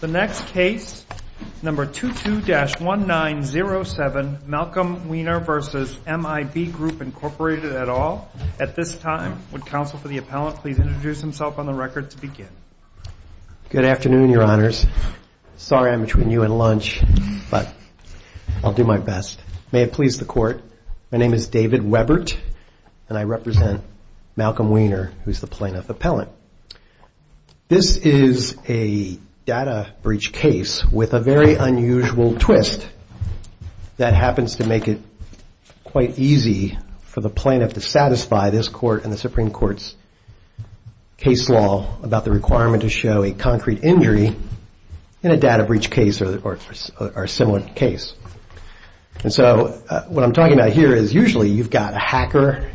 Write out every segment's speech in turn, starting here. The next case, number 22-1907, Malcolm Wiener v. MIB Group, Inc. et al. At this time, would counsel for the appellant please introduce himself on the record to begin? Good afternoon, Your Honors. Sorry I'm between you and lunch, but I'll do my best. May it please the Court, my name is David Webert, and I represent Malcolm Wiener, who's the plaintiff appellant. This is a data breach case with a very unusual twist that happens to make it quite easy for the plaintiff to satisfy this court and the Supreme Court's case law about the requirement to show a concrete injury in a data breach case or a similar case. And so what I'm talking about here is usually you've got a hacker,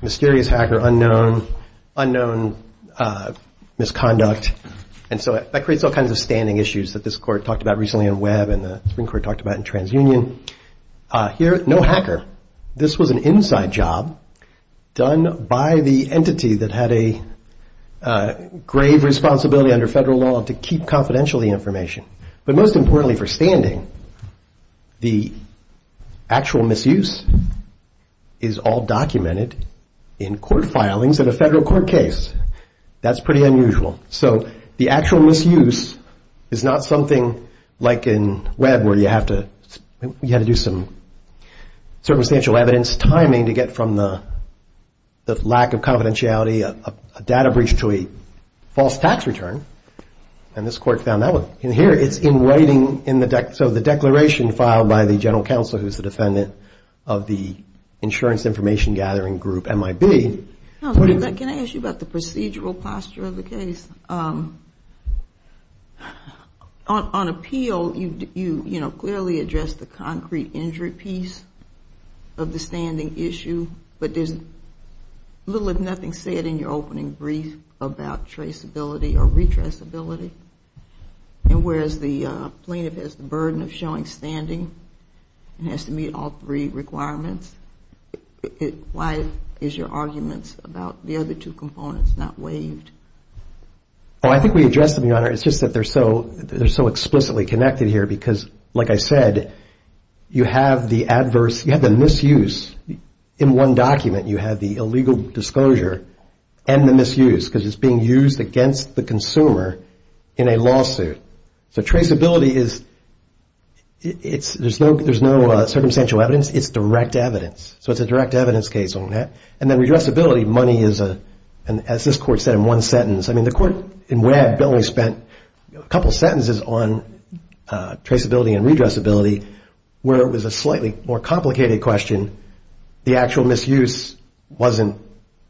mysterious hacker, unknown, unknown misconduct. And so that creates all kinds of standing issues that this court talked about recently in Webb and the Supreme Court talked about in TransUnion. Here, no hacker. This was an inside job done by the entity that had a grave responsibility under federal law to keep confidential the information. But most importantly for standing, the actual misuse is all documented in court filings of a federal court case. That's pretty unusual. So the actual misuse is not something like in Webb where you have to do some circumstantial evidence timing to get from the lack of confidentiality, a data breach to a false tax return. And this court found that one. And here it's in writing. So the declaration filed by the general counsel who's the defendant of the insurance information gathering group, MIB. Can I ask you about the procedural posture of the case? On appeal, you clearly address the concrete injury piece of the standing issue, but there's little if nothing said in your opening brief about traceability or retraceability. And whereas the plaintiff has the burden of showing standing and has to meet all three requirements, why is your arguments about the other two components not waived? Oh, I think we addressed them, Your Honor. It's just that they're so explicitly connected here because, like I said, you have the adverse, you have the misuse in one document. You have the illegal disclosure and the misuse because it's being used against the consumer in a lawsuit. So traceability is, there's no circumstantial evidence. It's direct evidence. So it's a direct evidence case on that. And then redressability, money is, as this court said in one sentence, I mean the court in Webb only spent a couple sentences on traceability and redressability where it was a slightly more complicated question. The actual misuse wasn't,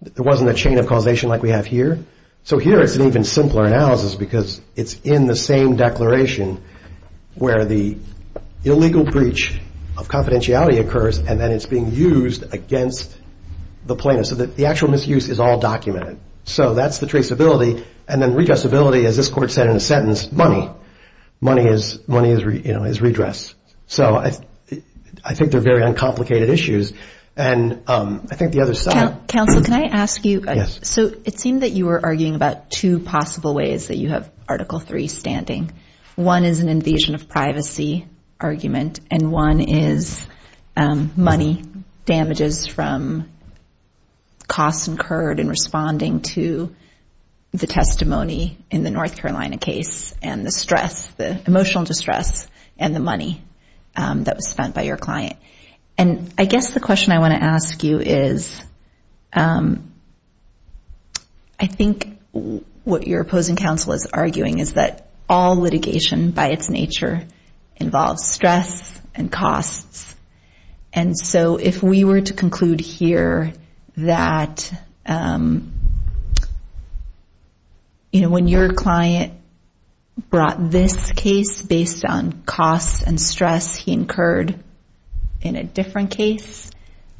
there wasn't a chain of causation like we have here. So here it's an even simpler analysis because it's in the same declaration where the illegal breach of confidentiality occurs and then it's being used against the plaintiff. So the actual misuse is all documented. So that's the traceability. And then redressability, as this court said in a sentence, money. Money is redress. So I think they're very uncomplicated issues. And I think the other side. Counsel, can I ask you? Yes. So it seemed that you were arguing about two possible ways that you have Article III standing. One is an invasion of privacy argument. And one is money damages from costs incurred in responding to the testimony in the North Carolina case and the stress, the emotional distress and the money that was spent by your client. And I guess the question I want to ask you is I think what your opposing counsel is arguing is that all litigation by its nature involves stress and costs. And so if we were to conclude here that when your client brought this case based on costs and stress he incurred in a different case,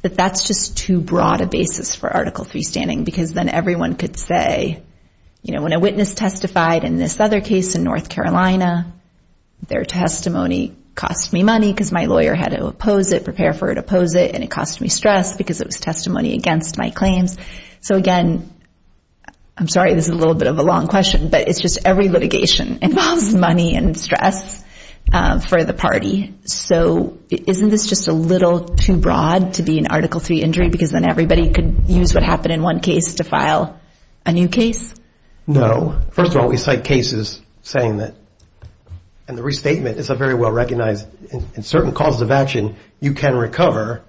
that that's just too broad a basis for Article III standing because then everyone could say, you know, when a witness testified in this other case in North Carolina, their testimony cost me money because my lawyer had to oppose it, prepare for it, oppose it, and it cost me stress because it was testimony against my claims. So again, I'm sorry this is a little bit of a long question, but it's just every litigation involves money and stress for the party. So isn't this just a little too broad to be an Article III injury because then everybody could use what happened in one case to file a new case? No. First of all, we cite cases saying that, and the restatement is a very well-recognized, in certain causes of action you can recover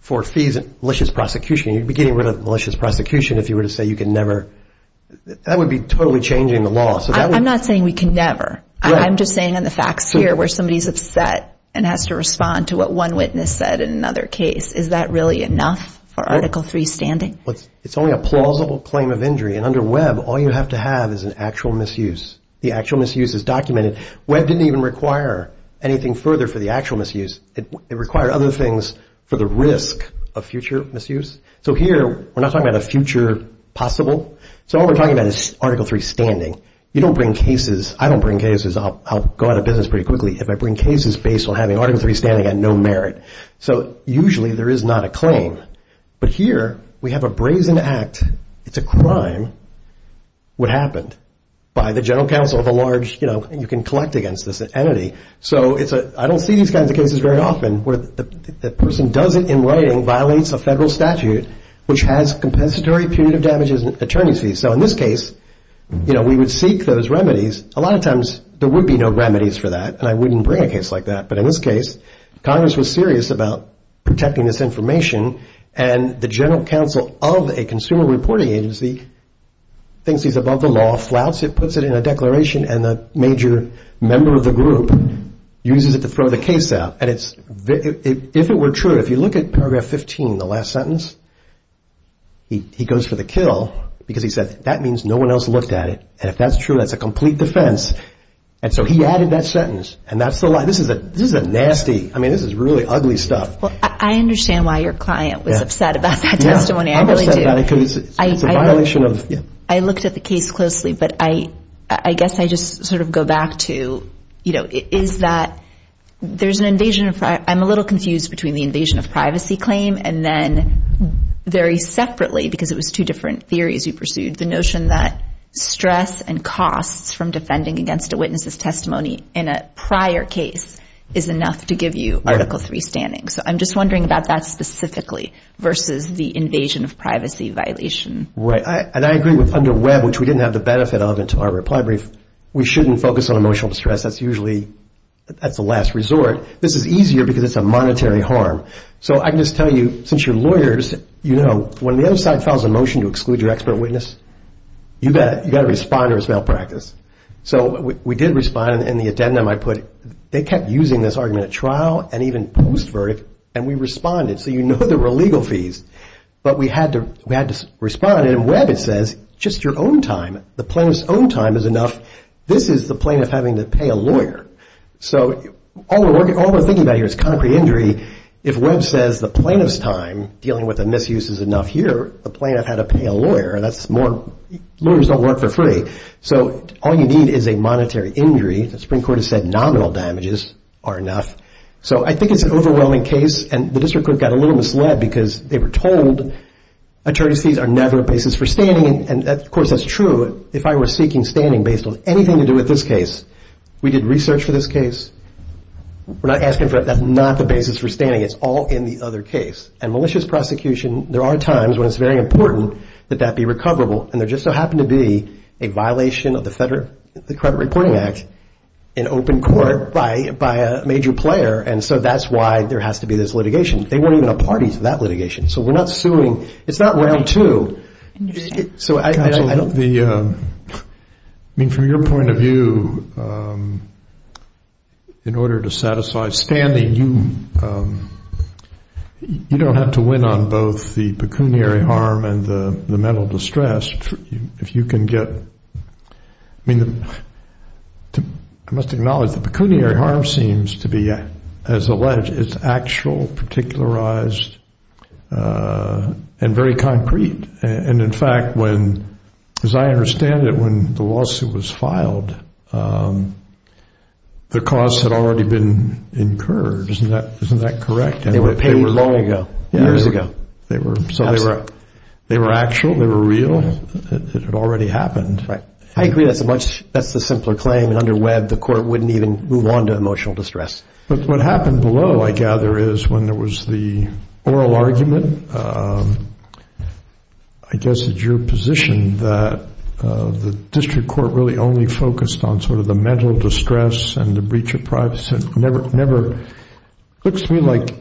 for fees of malicious prosecution. You'd be getting rid of malicious prosecution if you were to say you can never. That would be totally changing the law. I'm not saying we can never. I'm just saying in the facts here where somebody's upset and has to respond to what one witness said in another case, is that really enough for Article III standing? It's only a plausible claim of injury, and under Webb all you have to have is an actual misuse. The actual misuse is documented. Webb didn't even require anything further for the actual misuse. It required other things for the risk of future misuse. So here we're not talking about a future possible. So all we're talking about is Article III standing. You don't bring cases. I don't bring cases. I'll go out of business pretty quickly if I bring cases based on having Article III standing at no merit. So usually there is not a claim. But here we have a brazen act. It's a crime. What happened? By the general counsel of a large, you know, you can collect against this entity. So I don't see these kinds of cases very often where the person does it in writing, violates a federal statute which has compensatory punitive damages and attorney's fees. So in this case, you know, we would seek those remedies. A lot of times there would be no remedies for that, and I wouldn't bring a case like that. But in this case, Congress was serious about protecting this information, and the general counsel of a consumer reporting agency thinks he's above the law, flouts it, puts it in a declaration, and the major member of the group uses it to throw the case out. And if it were true, if you look at Paragraph 15, the last sentence, he goes for the kill because he said, that means no one else looked at it. And if that's true, that's a complete defense. And so he added that sentence. And that's the lie. This is a nasty, I mean, this is really ugly stuff. Well, I understand why your client was upset about that testimony. I really do. I'm upset about it because it's a violation of, yeah. I looked at the case closely, but I guess I just sort of go back to, you know, is that there's an invasion of, I'm a little confused between the invasion of privacy claim and then very separately because it was two different theories you pursued, the notion that stress and costs from defending against a witness's testimony in a prior case is enough to give you Article III standing. So I'm just wondering about that specifically versus the invasion of privacy violation. Right. And I agree with under Webb, which we didn't have the benefit of in our reply brief, we shouldn't focus on emotional distress. That's usually the last resort. This is easier because it's a monetary harm. So I can just tell you, since you're lawyers, you know, when the other side files a motion to exclude your expert witness, you've got to respond or it's malpractice. So we did respond, and in the addendum I put, they kept using this argument at trial and even post-verdict, and we responded. So you know there were legal fees, but we had to respond. And in Webb it says, just your own time, the plaintiff's own time is enough. This is the plaintiff having to pay a lawyer. So all we're thinking about here is concrete injury. If Webb says the plaintiff's time dealing with a misuse is enough here, the plaintiff had to pay a lawyer. Lawyers don't work for free. So all you need is a monetary injury. The Supreme Court has said nominal damages are enough. So I think it's an overwhelming case, and the district court got a little misled because they were told attorney's fees are never a basis for standing. And, of course, that's true if I were seeking standing based on anything to do with this case. We did research for this case. We're not asking for it. That's not the basis for standing. It's all in the other case. And malicious prosecution, there are times when it's very important that that be recoverable, and there just so happened to be a violation of the Federal Credit Reporting Act in open court by a major player, and so that's why there has to be this litigation. They weren't even a party to that litigation. So we're not suing. It's not round two. Counsel, I mean, from your point of view, in order to satisfy standing, you don't have to win on both the pecuniary harm and the mental distress. If you can get, I mean, I must acknowledge the pecuniary harm seems to be, as alleged, it's actual, particularized, and very concrete. And, in fact, as I understand it, when the lawsuit was filed, the costs had already been incurred. Isn't that correct? They were paid long ago, years ago. So they were actual, they were real. It had already happened. I agree. That's the simpler claim. Under Webb, the court wouldn't even move on to emotional distress. But what happened below, I gather, is when there was the oral argument, I guess it's your position that the district court really only focused on sort of the mental distress and the breach of privacy. It looks to me like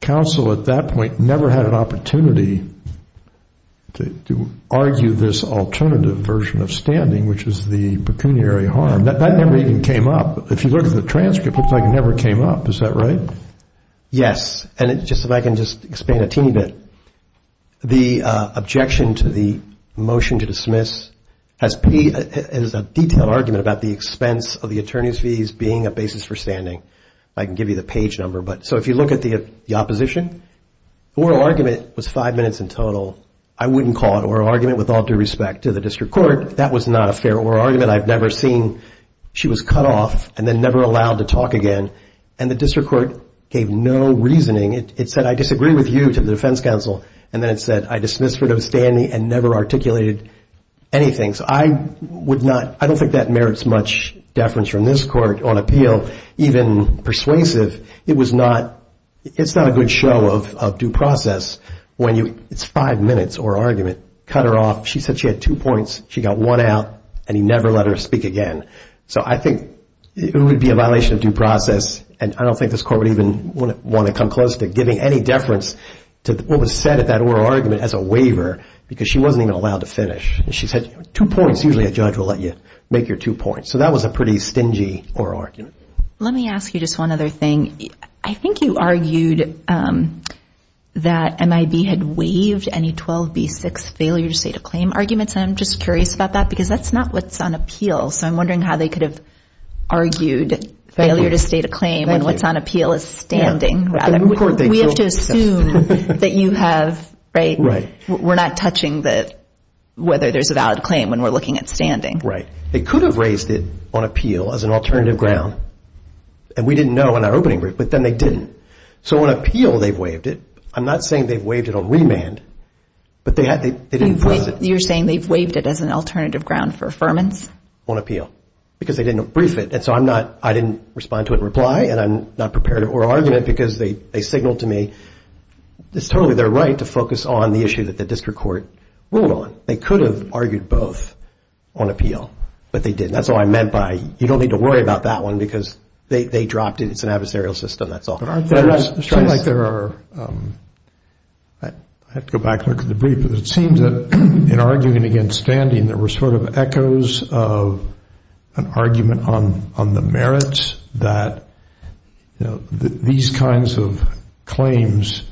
counsel at that point never had an opportunity to argue this alternative version of standing, which is the pecuniary harm. That never even came up. If you look at the transcript, it looks like it never came up. Is that right? Yes. And if I can just explain a teeny bit, the objection to the motion to dismiss has a detailed argument about the expense of the attorney's fees being a basis for standing. I can give you the page number. So if you look at the opposition, the oral argument was five minutes in total. I wouldn't call it an oral argument with all due respect to the district court. That was not a fair oral argument. I've never seen she was cut off and then never allowed to talk again. And the district court gave no reasoning. It said, I disagree with you to the defense counsel. And then it said, I dismiss for those standing and never articulated anything. So I don't think that merits much deference from this court on appeal, even persuasive. It's not a good show of due process when it's five minutes or argument. Cut her off. She said she had two points. She got one out and he never let her speak again. So I think it would be a violation of due process. And I don't think this court would even want to come close to giving any deference to what was said at that oral argument as a waiver because she wasn't even allowed to finish. She said, two points. Usually a judge will let you make your two points. So that was a pretty stingy oral argument. Let me ask you just one other thing. I think you argued that MIB had waived any 12B6 failure to state a claim arguments. I'm just curious about that because that's not what's on appeal. So I'm wondering how they could have argued failure to state a claim when what's on appeal is standing. We have to assume that you have, right? We're not touching whether there's a valid claim when we're looking at standing. Right. They could have raised it on appeal as an alternative ground. And we didn't know in our opening brief, but then they didn't. So on appeal they've waived it. I'm not saying they've waived it on remand, but they didn't force it. You're saying they've waived it as an alternative ground for affirmance? On appeal. Because they didn't brief it. And so I didn't respond to it in reply, and I'm not prepared to oral argument because they signaled to me, it's totally their right to focus on the issue that the district court ruled on. They could have argued both on appeal, but they didn't. That's all I meant by you don't need to worry about that one because they dropped it. It's an adversarial system. That's all. I feel like there are, I have to go back and look at the brief, but it seems that in arguing against standing there were sort of echoes of an argument on the merits that these kinds of claims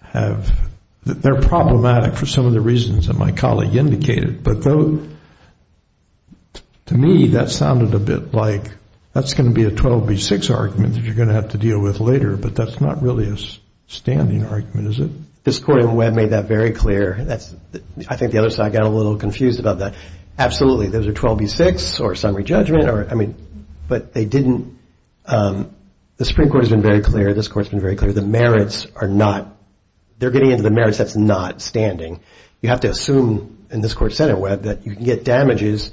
have, they're problematic for some of the reasons that my colleague indicated. But to me that sounded a bit like that's going to be a 12B6 argument that you're going to have to deal with later, but that's not really a standing argument, is it? This court in Webb made that very clear. I think the other side got a little confused about that. Absolutely, those are 12B6 or summary judgment, but they didn't, the Supreme Court has been very clear, this court's been very clear, the merits are not, they're getting into the merits that's not standing. You have to assume in this court, Senate Webb, that you can get damages.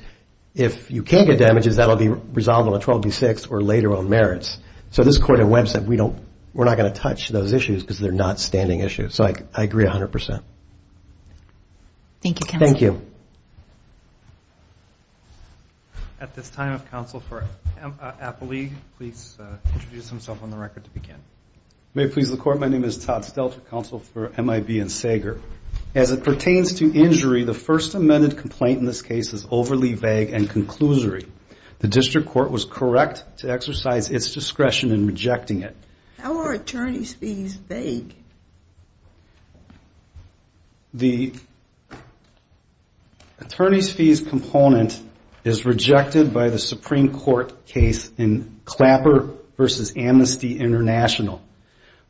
If you can't get damages, that will be resolved on a 12B6 or later on merits. So this court in Webb said we don't, we're not going to touch those issues because they're not standing issues. So I agree 100%. Thank you, counsel. Thank you. At this time, if counsel for Applee, please introduce himself on the record to begin. May it please the court, my name is Todd Stelter, counsel for MIB and Sager. As it pertains to injury, the first amended complaint in this case is overly vague and conclusory. The district court was correct to exercise its discretion in rejecting it. How are attorney's fees vague? The attorney's fees component is rejected by the Supreme Court case in Clapper v. Amnesty International.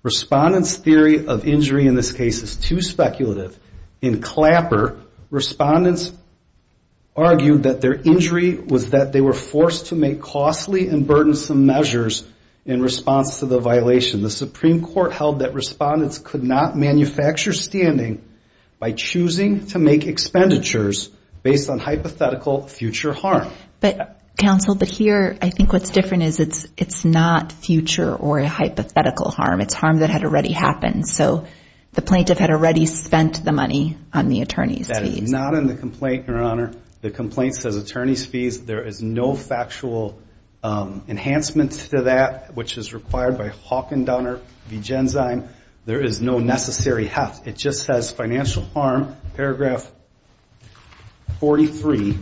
Respondent's theory of injury in this case is too speculative. In Clapper, respondents argued that their injury was that they were forced to make costly and burdensome measures in response to the violation. The Supreme Court held that respondents could not manufacture standing by choosing to make expenditures based on hypothetical future harm. Counsel, but here, I think what's different is it's not future or hypothetical harm. It's harm that had already happened. So the plaintiff had already spent the money on the attorney's fees. That is not in the complaint, Your Honor. The complaint says attorney's fees. There is no factual enhancement to that, which is required by Hawk and Donner v. Genzyme. There is no necessary heft. It just says financial harm, paragraph 43,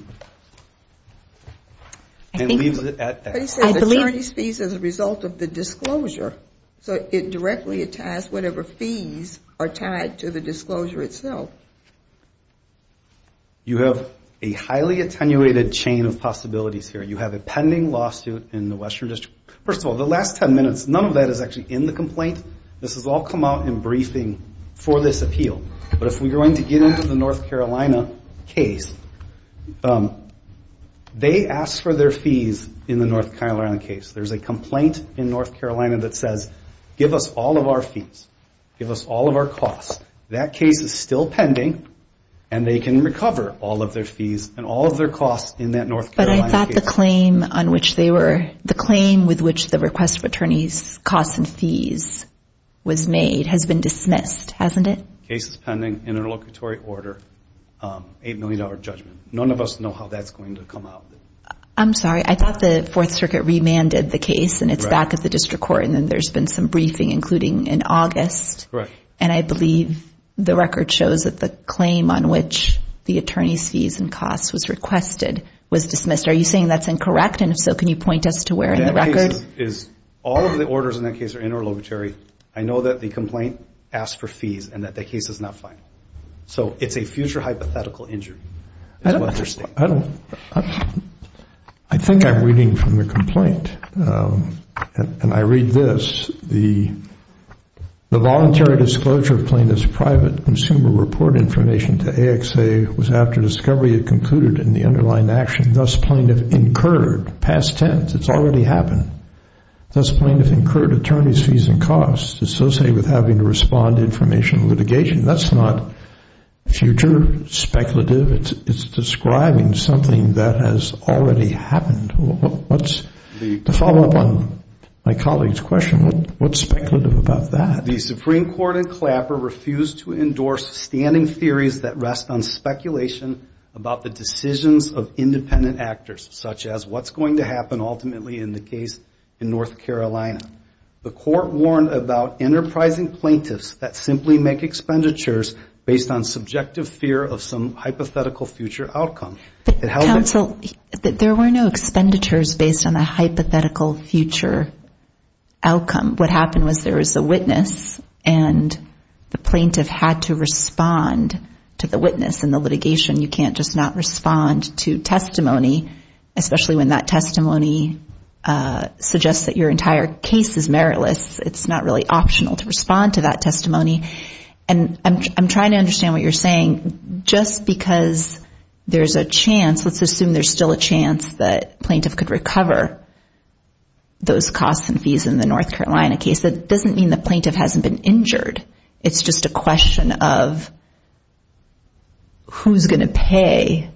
and leaves it at that. But he says attorney's fees as a result of the disclosure. So it directly attests whatever fees are tied to the disclosure itself. You have a highly attenuated chain of possibilities here. You have a pending lawsuit in the Western District. First of all, the last 10 minutes, none of that is actually in the complaint. This has all come out in briefing for this appeal. But if we're going to get into the North Carolina case, they asked for their fees in the North Carolina case. There's a complaint in North Carolina that says give us all of our fees, give us all of our costs. That case is still pending, and they can recover all of their fees and all of their costs in that North Carolina case. But I thought the claim with which the request for attorney's costs and fees was made has been dismissed, hasn't it? Case is pending, interlocutory order, $8 million judgment. None of us know how that's going to come out. I'm sorry. I thought the Fourth Circuit remanded the case, and it's back at the district court, and then there's been some briefing, including in August. Correct. And I believe the record shows that the claim on which the attorney's fees and costs was requested was dismissed. Are you saying that's incorrect? And if so, can you point us to where in the record? All of the orders in that case are interlocutory. I know that the complaint asked for fees and that that case is not final. So it's a future hypothetical injury is what they're stating. I think I'm reading from the complaint, and I read this. The voluntary disclosure of plaintiff's private consumer report information to AXA was after discovery had concluded in the underlying action. Thus, plaintiff incurred, past tense, it's already happened. Thus, plaintiff incurred attorney's fees and costs associated with having to respond to information litigation. That's not future speculative. It's describing something that has already happened. To follow up on my colleague's question, what's speculative about that? The Supreme Court in Clapper refused to endorse standing theories that rest on speculation about the decisions of independent actors, such as what's going to happen ultimately in the case in North Carolina. The court warned about enterprising plaintiffs that simply make expenditures based on subjective fear of some hypothetical future outcome. Counsel, there were no expenditures based on a hypothetical future outcome. What happened was there was a witness, and the plaintiff had to respond to the witness in the litigation. You can't just not respond to testimony, especially when that testimony suggests that your entire case is meritless. It's not really optional to respond to that testimony. I'm trying to understand what you're saying. Just because there's a chance, let's assume there's still a chance that plaintiff could recover those costs and fees in the North Carolina case, that doesn't mean the plaintiff hasn't been injured. It's just a question of who's going to pay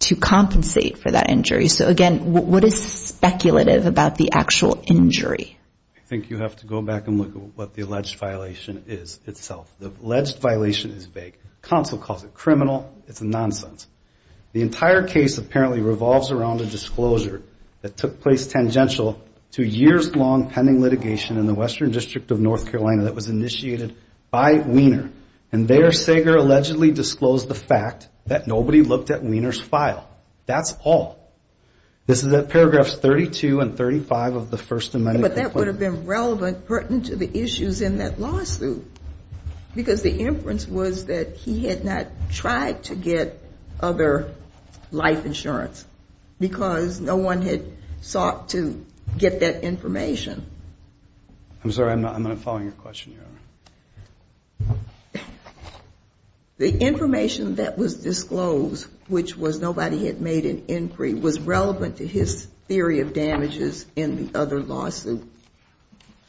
to compensate for that injury. Again, what is speculative about the actual injury? I think you have to go back and look at what the alleged violation is itself. The alleged violation is vague. Counsel calls it criminal. It's nonsense. The entire case apparently revolves around a disclosure that took place tangential to years-long pending litigation in the Western District of North Carolina that was initiated by Weiner. And there, Sager allegedly disclosed the fact that nobody looked at Weiner's file. That's all. This is at paragraphs 32 and 35 of the First Amendment. But that would have been relevant, pertinent to the issues in that lawsuit. Because the inference was that he had not tried to get other life insurance because no one had sought to get that information. I'm sorry, I'm not following your question, Your Honor. The information that was disclosed, which was nobody had made an inquiry, was relevant to his theory of damages in the other lawsuit,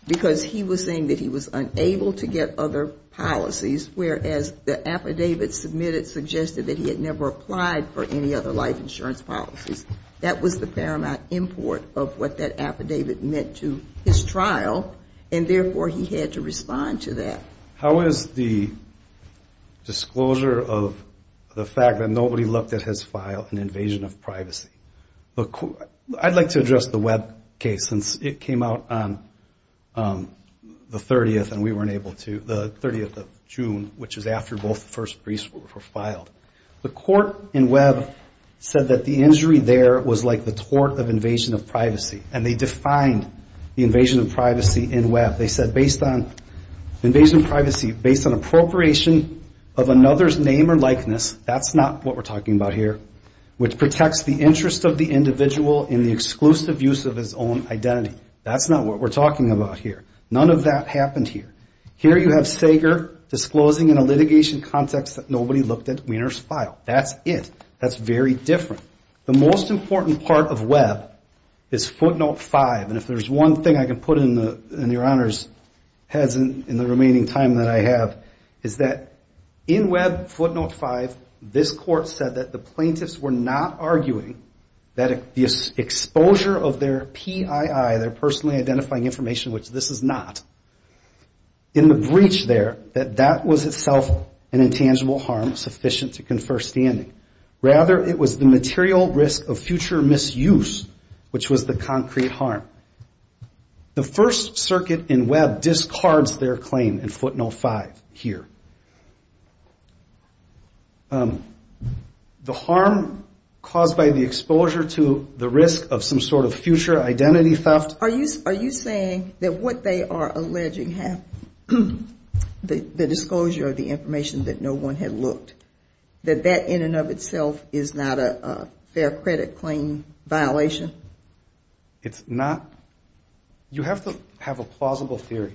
because he was saying that he was unable to get other policies, whereas the affidavit submitted suggested that he had never applied for any other life insurance policies. That was the paramount import of what that affidavit meant to his trial. And therefore, he had to respond to that. How is the disclosure of the fact that nobody looked at his file an invasion of privacy? I'd like to address the Webb case, since it came out on the 30th and we weren't able to, the 30th of June, which is after both first briefs were filed. The court in Webb said that the injury there was like the tort of invasion of privacy. And they defined the invasion of privacy in Webb. They said invasion of privacy based on appropriation of another's name or likeness, that's not what we're talking about here, which protects the interest of the individual in the exclusive use of his own identity. That's not what we're talking about here. None of that happened here. Here you have Sager disclosing in a litigation context that nobody looked at Wiener's file. That's it. That's very different. The most important part of Webb is footnote five. And if there's one thing I can put in your Honor's heads in the remaining time that I have, is that in Webb footnote five, this court said that the plaintiffs were not arguing that the exposure of their PII, their personally identifying information, which this is not, in the breach there, that that was itself an intangible harm sufficient to confer standing. Rather it was the material risk of future misuse, which was the concrete harm. The First Circuit in Webb discards their claim in footnote five here. The harm caused by the exposure to the risk of some sort of future identity theft. Are you saying that what they are alleging, the disclosure of the information that no one had looked, that that in and of itself is not a fair credit claim violation? It's not. You have to have a plausible theory.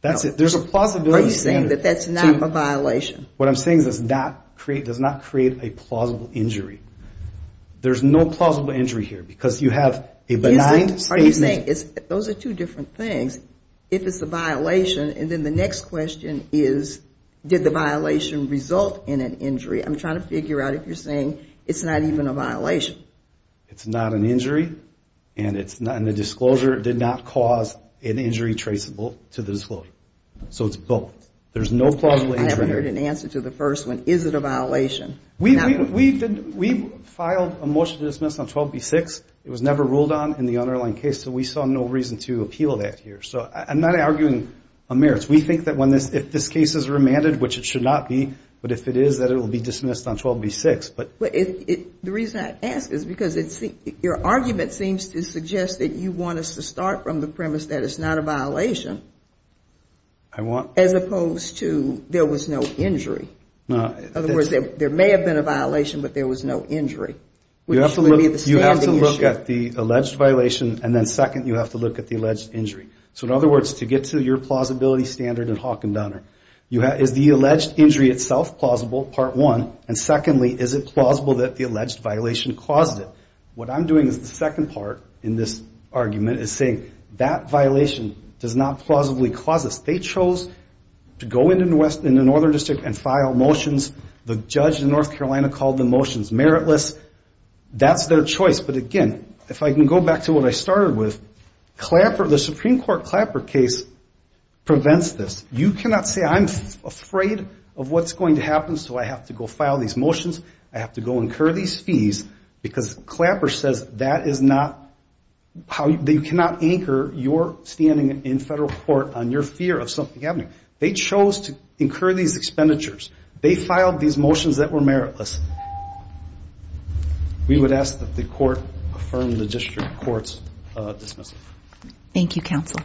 There's a plausibility standard. Are you saying that that's not a violation? What I'm saying is it does not create a plausible injury. There's no plausible injury here, because you have a benign statement. Those are two different things. If it's a violation, and then the next question is, did the violation result in an injury? I'm trying to figure out if you're saying it's not even a violation. It's not an injury, and the disclosure did not cause an injury traceable to the disclosure. So it's both. There's no plausible injury here. I never heard an answer to the first one. Is it a violation? We filed a motion to dismiss on 12B6. As opposed to there was no injury. In other words, there may have been a violation, but there was no injury, which would be the standing issue. You have to look at the alleged violation, and then second, you have to look at the alleged injury. So in other words, to get to your plausibility standard in Hawk and Donner, is the alleged injury itself plausible, part one, and secondly, is it plausible that the alleged violation caused it? What I'm doing is the second part in this argument is saying that violation does not plausibly cause this. They chose to go into the northern district and file motions. The judge in North Carolina called the motions meritless. That's their choice, but again, if I can go back to what I started with, the Supreme Court Clapper case prevents this. You cannot say I'm afraid of what's going to happen, so I have to go file these motions. I have to go incur these fees, because Clapper says that is not, you cannot anchor your standing in federal court on your fear of something happening. They chose to incur these expenditures. They filed these motions that were meritless. We would ask that the court affirm the district court's dismissal. Thank you, counsel.